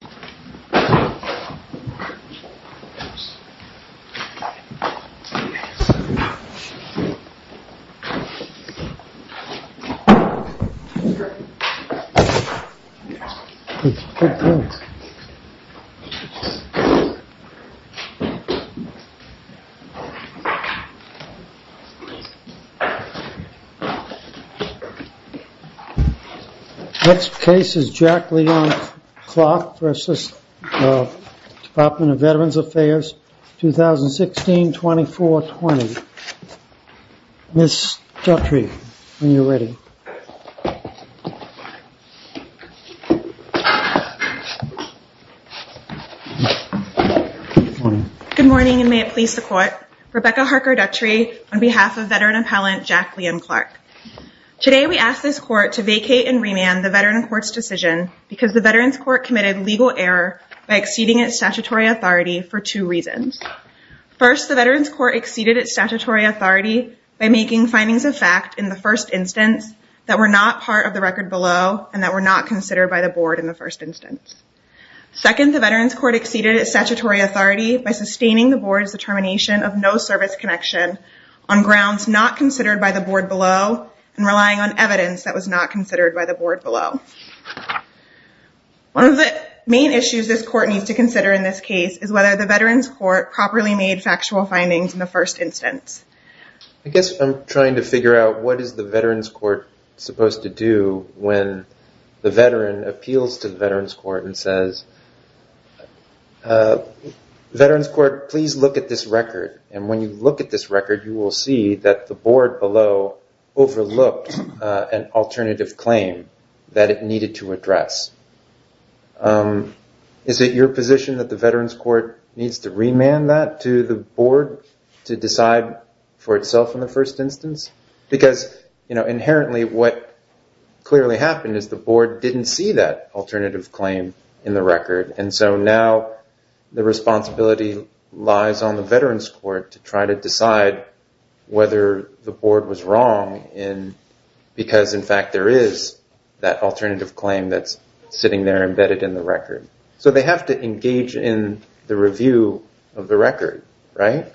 for assistance, Department of Veterans Affairs, 2016-24-20. Ms. Duttry, when you're ready. Good morning and may it please the Court. Rebecca Harker Duttry on behalf of Veteran Appellant Jack Liam Clark. Today we ask this Court to vacate and remand the Veteran Court's decision because the Veterans Court committed legal error by exceeding its statutory authority for two reasons. First, the Veterans Court exceeded its statutory authority by making findings of fact in the first instance that were not part of the record below and that were not considered by the Board in the first instance. Second, the Veterans Court exceeded its statutory authority by sustaining the Board's determination of no service connection on grounds not considered by the Board below and relying on evidence that was not considered by the Board below. One of the main issues this Court needs to consider in this case is whether the Veterans Court properly made factual findings in the first instance. I guess I'm trying to figure out what is the Veterans Court supposed to do when the Veteran appeals to the Veterans Court and says, Veterans Court, please look at this record. And when you look at this record, you will see that the Board below overlooked an alternative claim that it needed to address. Is it your position that the Veterans Court needs to remand that to the Board to decide for itself in the first instance? Because inherently what clearly happened is the Board didn't see that alternative claim in the record. And so now the responsibility lies on the Veterans Court to try to decide whether the Board was wrong because in fact there is that alternative claim that's sitting there embedded in the record. So they have to engage in the review of the record, right?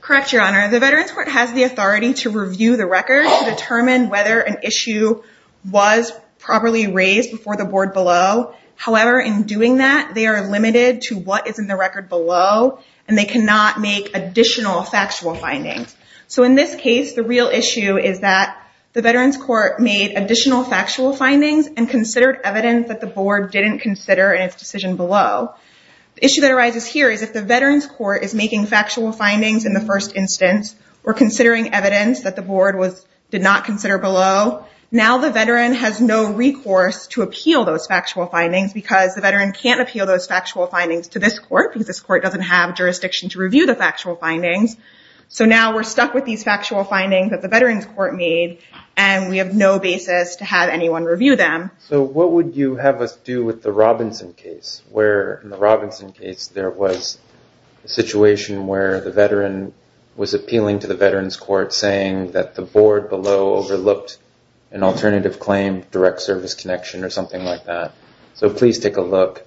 Correct, Your Honor. The Veterans Court has the authority to review the record to determine whether an issue was properly raised before the Board below. However, in doing that, they are limited to what is in the record below and they cannot make additional factual findings. So in this case, the real issue is that the Veterans Court made additional factual findings and considered evidence that the Board didn't consider in its decision below. The issue that arises here is if the Veterans Court is making factual findings in the first instance or considering evidence that the Board did not consider below, now the Veteran has no recourse to appeal those factual findings because the Veteran can't appeal those factual findings to this court because this court doesn't have jurisdiction to review the factual findings. So now we're stuck with these factual findings that the Veterans Court made and we have no basis to have anyone review them. So what would you have us do with the Robinson case where in the Robinson case there was a situation where the Veteran was appealing to the Veterans Court saying that the Board below overlooked an alternative claim, direct service connection or something like that. So please take a look.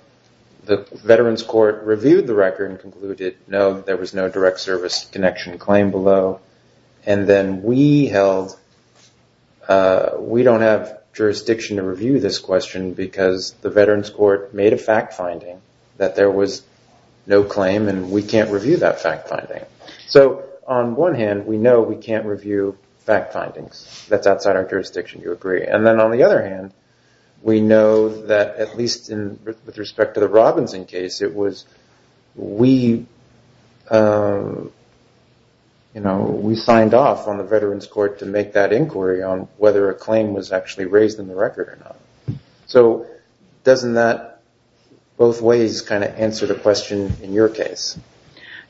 The Veterans Court reviewed the record and concluded, no, there was no direct service connection claim below. And then we held, we don't have jurisdiction to review this question because the Veterans Court made a fact finding that there was no claim and we can't review that fact finding. So on one hand, we know we can't review fact findings. That's outside our jurisdiction, you agree. And then on the other hand, we know that at least with respect to the Robinson case, it was we signed off on the Veterans Court to make that inquiry on whether a claim was actually raised in the record or not. So doesn't that both ways kind of answer the question in your case?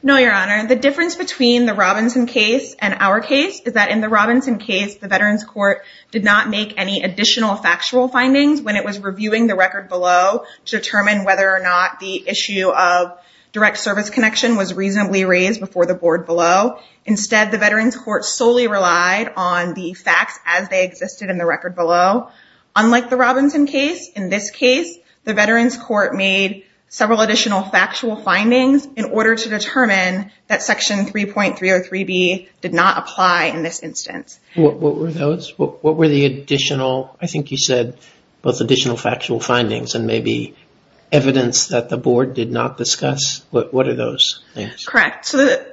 No, Your Honor. The difference between the Robinson case and our case is that in the Robinson case, the Veterans Court did not make any additional factual findings when it was reviewing the record below to determine whether or not the issue of direct service connection was reasonably raised before the Board below. Instead, the Veterans Court solely relied on the facts as they existed in the record below. Unlike the Robinson case, in this case, the Veterans Court made several additional factual findings in order to determine that Section 3.303B did not apply in this instance. What were those? What were the additional, I think you said, both additional factual findings and maybe evidence that the Board did not discuss? What are those? Correct. So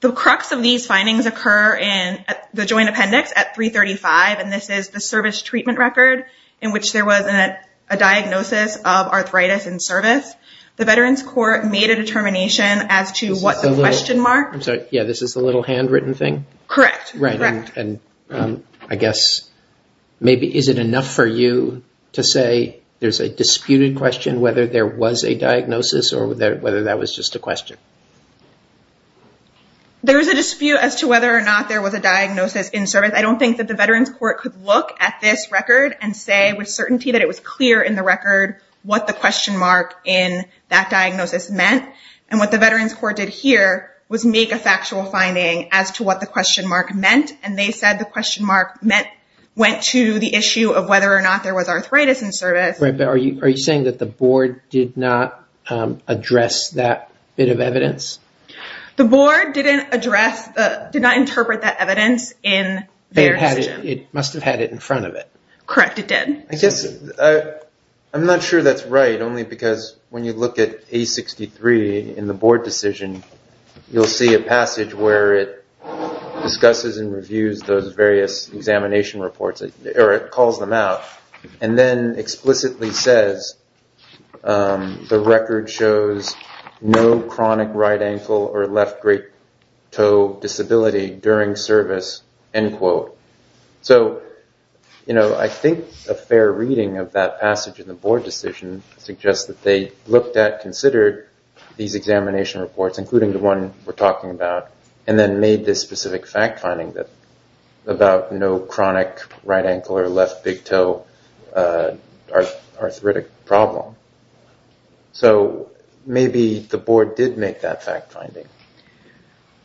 the crux of these findings occur in the Joint Appendix at 3.35, and this is the service treatment record in which there was a diagnosis of arthritis in service. The Veterans Court made a determination as to what the question mark... I'm sorry. Yeah, this is the little handwritten thing? Correct. Right. And I guess maybe is it enough for you to say there's a disputed question whether there was a diagnosis or whether that was just a question? There's a dispute as to whether or not there was a diagnosis in service. I don't think that the Veterans Court could look at this record and say with certainty that it was clear in the record what the question mark in that diagnosis meant. And what the Veterans Court did here was make a factual finding as to what the question mark meant, and they said the question mark went to the issue of whether or not there was arthritis in service. Are you saying that the board did not address that bit of evidence? The board did not interpret that evidence in their decision. It must have had it in front of it. Correct. It did. I'm not sure that's right, only because when you look at A63 in the board decision, you'll see a passage where it discusses and reviews those various examination reports, or it calls them out, and then explicitly says the record shows no chronic right ankle or left great toe disability during service, end quote. So I think a fair reading of that passage in the board decision suggests that they looked at, considered these examination reports, including the one we're talking about, and then made this specific fact finding about no chronic right ankle or left big toe arthritic problem. So maybe the board did make that fact finding.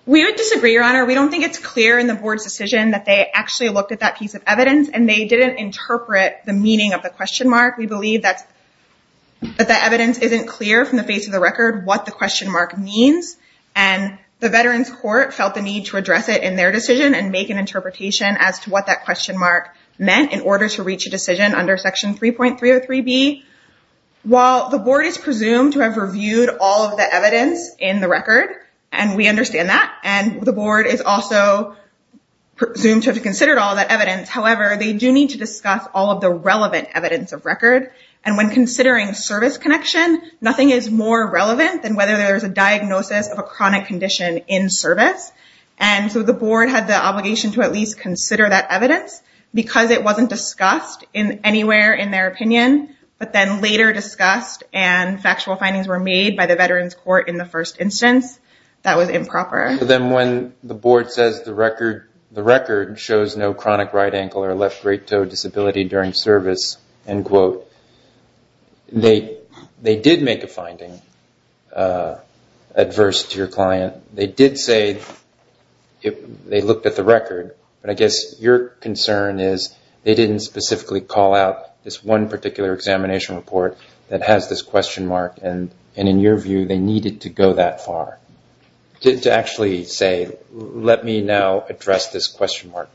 We would disagree, Your Honor. We don't think it's clear in the board's decision that they actually looked at that piece of evidence, and they didn't interpret the meaning of the question mark. We believe that the evidence isn't clear from the face of the record what question mark means, and the Veterans Court felt the need to address it in their decision and make an interpretation as to what that question mark meant in order to reach a decision under Section 3.303B. While the board is presumed to have reviewed all of the evidence in the record, and we understand that, and the board is also presumed to have considered all that evidence, however, they do need to discuss all of the relevant evidence of record. And when considering service connection, nothing is more relevant than whether there's a diagnosis of a chronic condition in service. And so the board had the obligation to at least consider that evidence because it wasn't discussed anywhere in their opinion, but then later discussed and factual findings were made by the Veterans Court in the first instance. That was improper. Then when the board says the record shows no chronic right ankle or left great toe disability during service, end quote, they did make a finding adverse to your client. They did say they looked at the record, but I guess your concern is they didn't specifically call out this one particular examination report that has this question mark, and in your view, they needed to go that far to actually say, let me now address this question mark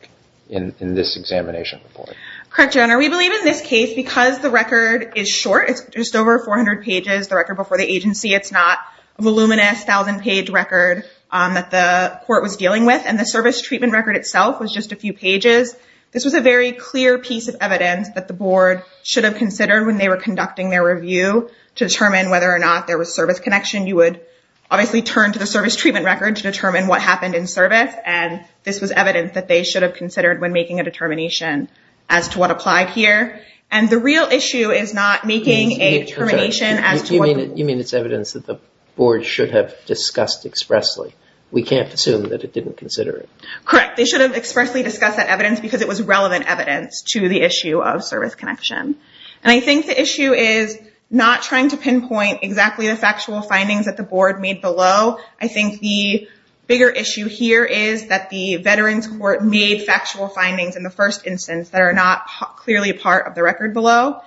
in this examination report. Correct, Your Honor. We believe in this case, because the record is short, it's just over 400 pages, the record before the agency, it's not a voluminous thousand page record that the court was dealing with, and the service treatment record itself was just a few pages. This was a very clear piece of evidence that the board should have considered when they were conducting their review to determine whether or not there was service connection. You would obviously turn to the service treatment record to determine what happened in service, and this was evidence that they should have considered when making a determination as to what applied here, and the real issue is not making a determination as to what- You mean it's evidence that the board should have discussed expressly. We can't assume that it didn't consider it. Correct. They should have expressly discussed that evidence because it was relevant evidence to the issue of service connection, and I think the issue is not trying to pinpoint exactly the factual findings that the board made below. I think the bigger issue here is that the Veterans Court made factual findings in the first instance that are not clearly a part of the record below,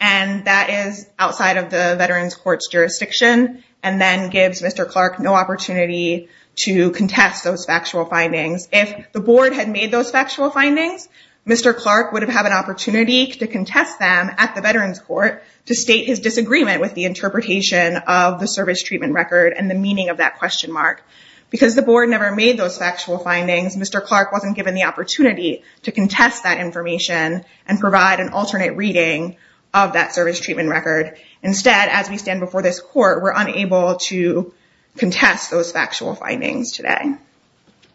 and that is outside of the Veterans Court's jurisdiction, and then gives Mr. Clark no opportunity to contest those factual findings. If the board had made those factual findings, Mr. Clark would have had an opportunity to contest them at the Veterans Court to state his disagreement with the interpretation of the service treatment record and the meaning of that question mark. Because the board never made those factual findings, Mr. Clark wasn't given the opportunity to contest that information and provide an alternate reading of that service treatment record. Instead, as we stand before this court, we're unable to contest those factual findings today.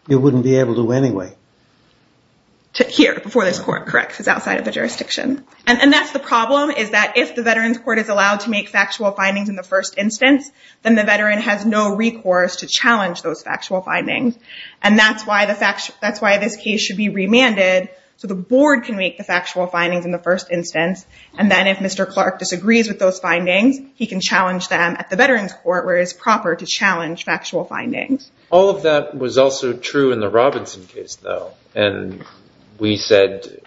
You wouldn't be able to anyway. Here, before this court, correct, because it's outside of the jurisdiction. And that's the problem, is that if the Veterans Court is allowed to make factual findings in the first instance, then the veteran has no recourse to challenge those factual findings, and that's why this case should be remanded so the board can make the factual findings in the first instance. And then if Mr. Clark disagrees with those findings, he can challenge them at the Veterans Court, where it's proper to challenge factual findings. All of that was also true in the Robinson case, though. And we said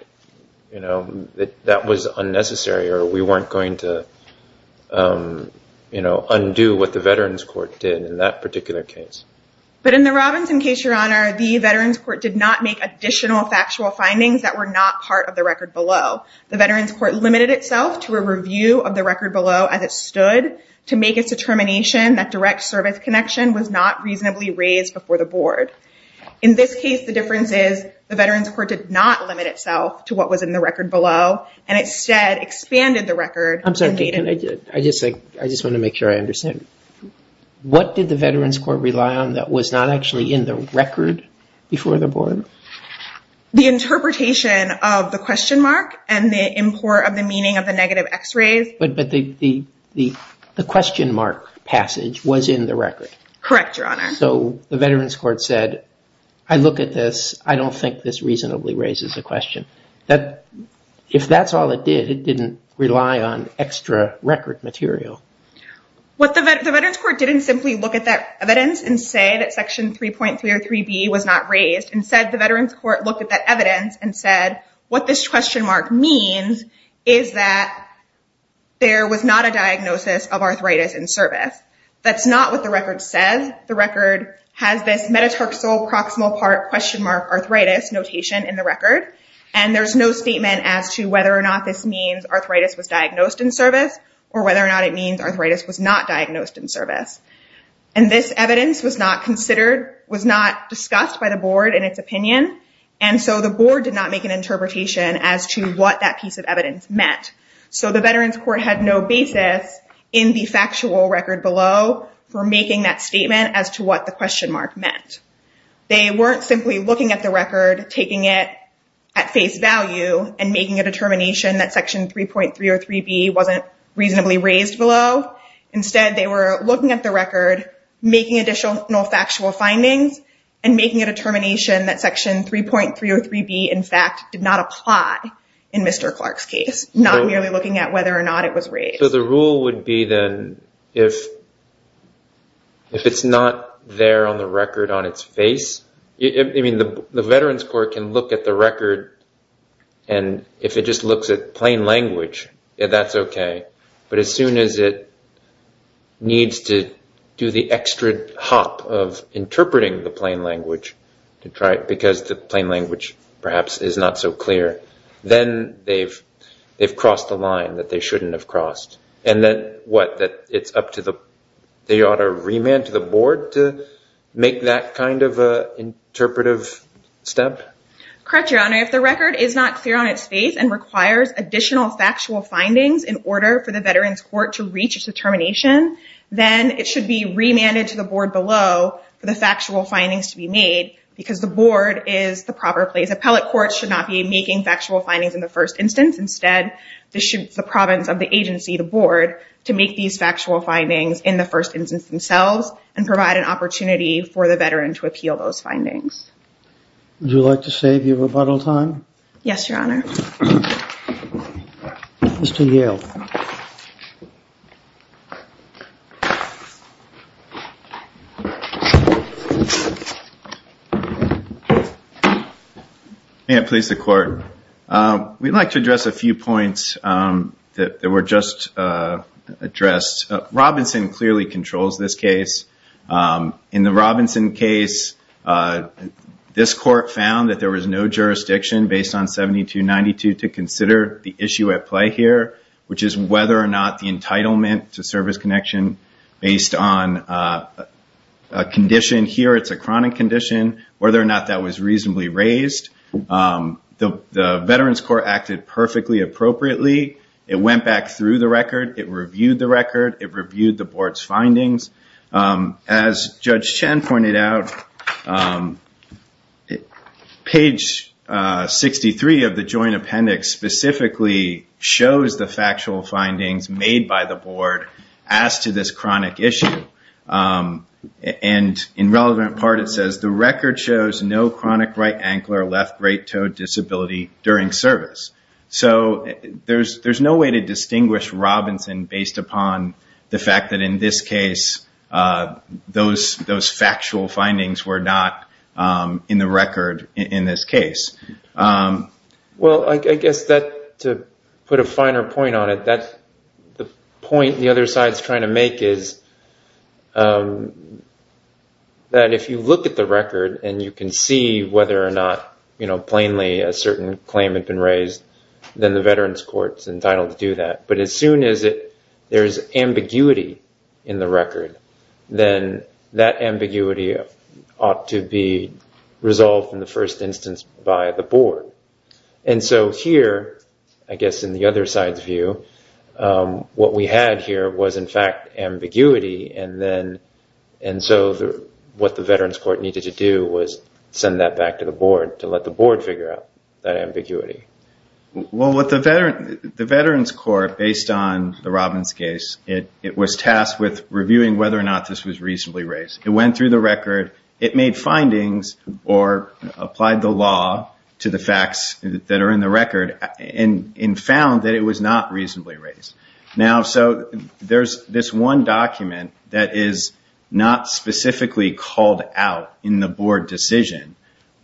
that that was unnecessary, or we weren't going to undo what the Veterans Court did in that particular case. But in the Robinson case, Your Honor, the Veterans Court did not make additional factual findings that were not part of the record below. The Veterans Court limited itself to a review of the record below as it stood to make a determination that direct service connection was not reasonably raised before the board. In this case, the difference is the Veterans Court did not limit itself to what was in the record below, and instead expanded the record. I'm sorry, I just want to make sure I understand. What did the Veterans Court rely on that was not actually in the record before the board? The interpretation of the question mark and the import of the meaning of the negative x-rays. But the question mark passage was in the record. Correct, Your Honor. So the Veterans Court said, I look at this. I don't think this reasonably raises the question. If that's all it did, it didn't rely on extra record material. What the Veterans Court didn't simply look at that evidence and say that section 3.303b was not raised. Instead, the Veterans Court looked at that evidence and said, what this question mark means is that there was not a diagnosis of arthritis in service. That's not what the record says. The record has this metatarsoproximal part question mark arthritis notation in the record. And there's no statement as to whether or not this means arthritis was diagnosed in service. And this evidence was not considered, was not discussed by the board in its opinion. And so the board did not make an interpretation as to what that piece of evidence meant. So the Veterans Court had no basis in the factual record below for making that statement as to what the question mark meant. They weren't simply looking at the record, taking it at face value and making a determination that section 3.303b wasn't reasonably raised below. Instead, they were looking at the record, making additional factual findings and making a determination that section 3.303b, in fact, did not apply in Mr. Clark's case, not merely looking at whether or not it was raised. So the rule would be then if it's not there on the record on its face, I mean, the Veterans Court can look at the record and if it just looks at plain language, that's okay. But as soon as it needs to do the extra hop of interpreting the plain language to try it because the plain language perhaps is not so clear, then they've crossed the line that they shouldn't have crossed. And then what? That it's up to the, they ought to remand to the board to make that kind of interpretive step? Correct, Your Honor. If the record is not clear on its face and requires additional factual findings in order for the Veterans Court to reach a determination, then it should be remanded to the board below for the factual findings to be made because the board is the proper place. Appellate courts should not be making factual findings in the first instance. Instead, the province of the agency, the board, to make these factual findings in the first instance themselves and provide an opportunity for the veteran to appeal those findings. Would you like to save your rebuttal time? Yes, Your Honor. Mr. Yale. May it please the Court. We'd like to address a few points that were just addressed. Robinson clearly controls this case. In the Robinson case, this court found that there was no jurisdiction based on 7292 to consider the issue at play here, which is whether or not the entitlement to service connection based on a condition here, it's a chronic condition, whether or not that was reasonably raised. The Veterans Court acted perfectly appropriately. It went back through the record. It reviewed the record. It reviewed the board's findings. As Judge Chen pointed out, page 63 of the joint appendix specifically shows the factual findings made by the board as to this chronic issue. In relevant part, it says, the record shows no chronic right ankle or left right-toed disability during service. So there's no way to distinguish Robinson based upon the fact that in this case, those factual findings were not in the record in this case. Well, I guess to put a finer point on it, the point the other side is trying to make is that if you look at the record and you can see whether or not plainly a certain claim had been raised, then the Veterans Court's entitled to do that. But as soon as there is ambiguity in the record, then that ambiguity ought to be resolved in the first instance by the board. And so here, I guess in the other side's view, what we had here was, in fact, ambiguity. And so what the Veterans Court needed to do was send that back to the board to let the Well, with the Veterans Court, based on the Robbins case, it was tasked with reviewing whether or not this was reasonably raised. It went through the record. It made findings or applied the law to the facts that are in the record and found that it was not reasonably raised. Now, so there's this one document that is not specifically called out in the board decision.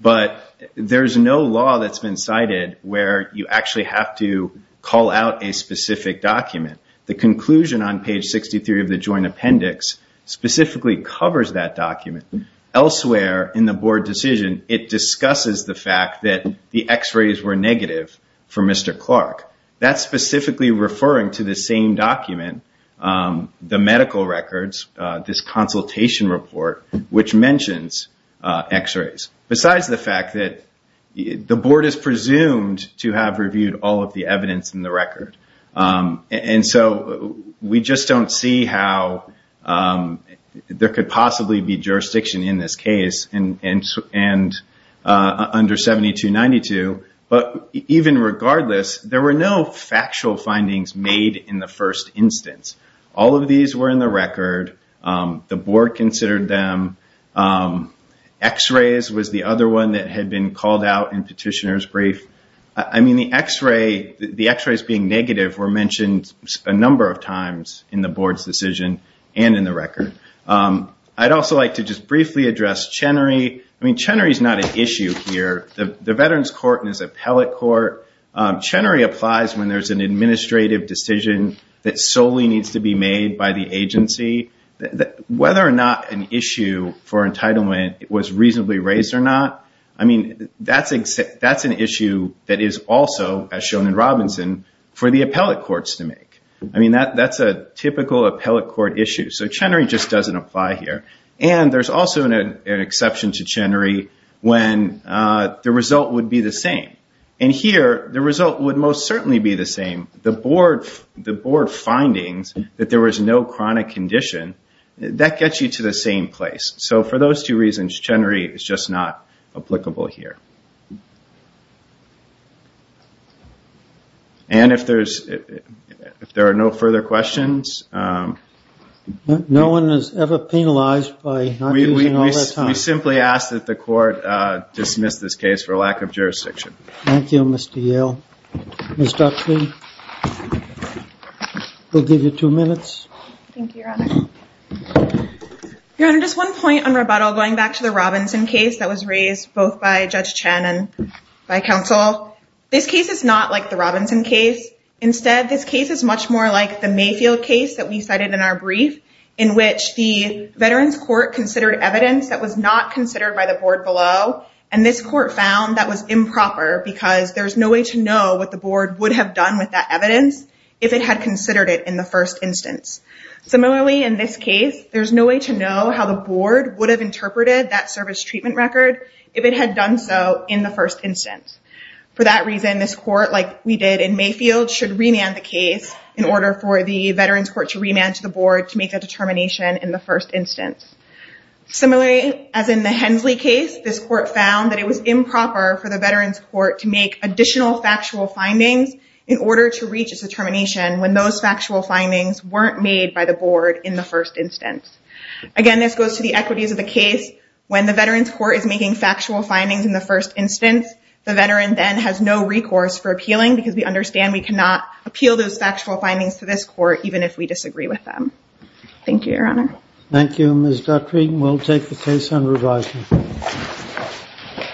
But there's no law that's been cited where you actually have to call out a specific document. The conclusion on page 63 of the joint appendix specifically covers that document. Elsewhere in the board decision, it discusses the fact that the x-rays were negative for Mr. Clark. That's specifically referring to the same document, the medical records, this consultation report, which mentions x-rays. Besides the fact that the board is presumed to have reviewed all of the evidence in the record. And so we just don't see how there could possibly be jurisdiction in this case under 7292. But even regardless, there were no factual findings made in the first instance. All of these were in the record. The board considered them. X-rays was the other one that had been called out in petitioner's brief. I mean, the x-rays being negative were mentioned a number of times in the board's decision and in the record. I'd also like to just briefly address Chenery. I mean, Chenery is not an issue here. The Veterans Court is appellate court. Chenery applies when there's an administrative decision that solely needs to be made by the whether or not an issue for entitlement was reasonably raised or not. I mean, that's an issue that is also as shown in Robinson for the appellate courts to make. I mean, that's a typical appellate court issue. So Chenery just doesn't apply here. And there's also an exception to Chenery when the result would be the same. And here, the result would most certainly be the same. The board findings that there was no chronic condition, that gets you to the same place. So for those two reasons, Chenery is just not applicable here. And if there are no further questions. No one is ever penalized by not using all their time. We simply ask that the court dismiss this case for lack of jurisdiction. Thank you, Mr. Yale. Ms. Duxley, we'll give you two minutes. Thank you, Your Honor. Your Honor, just one point on rebuttal going back to the Robinson case that was raised both by Judge Chen and by counsel. This case is not like the Robinson case. Instead, this case is much more like the Mayfield case that we cited in our brief, in which the Veterans Court considered evidence that was not considered by the board below. And this court found that was improper because there's no way to know what the board would have done with that evidence if it had considered it in the first instance. Similarly, in this case, there's no way to know how the board would have interpreted that service treatment record if it had done so in the first instance. For that reason, this court, like we did in Mayfield, should remand the case in order for the Veterans Court to remand to the board to make a determination in the first instance. Similarly, as in the Hensley case, this court found that it was improper for the Veterans Court to make additional factual findings in order to reach a determination when those factual findings weren't made by the board in the first instance. Again, this goes to the equities of the case. When the Veterans Court is making factual findings in the first instance, the veteran then has no recourse for appealing because we understand we cannot appeal those factual findings to this court even if we disagree with them. Thank you, Your Honor. Thank you, Ms. Guthrie. We'll take the case on revising.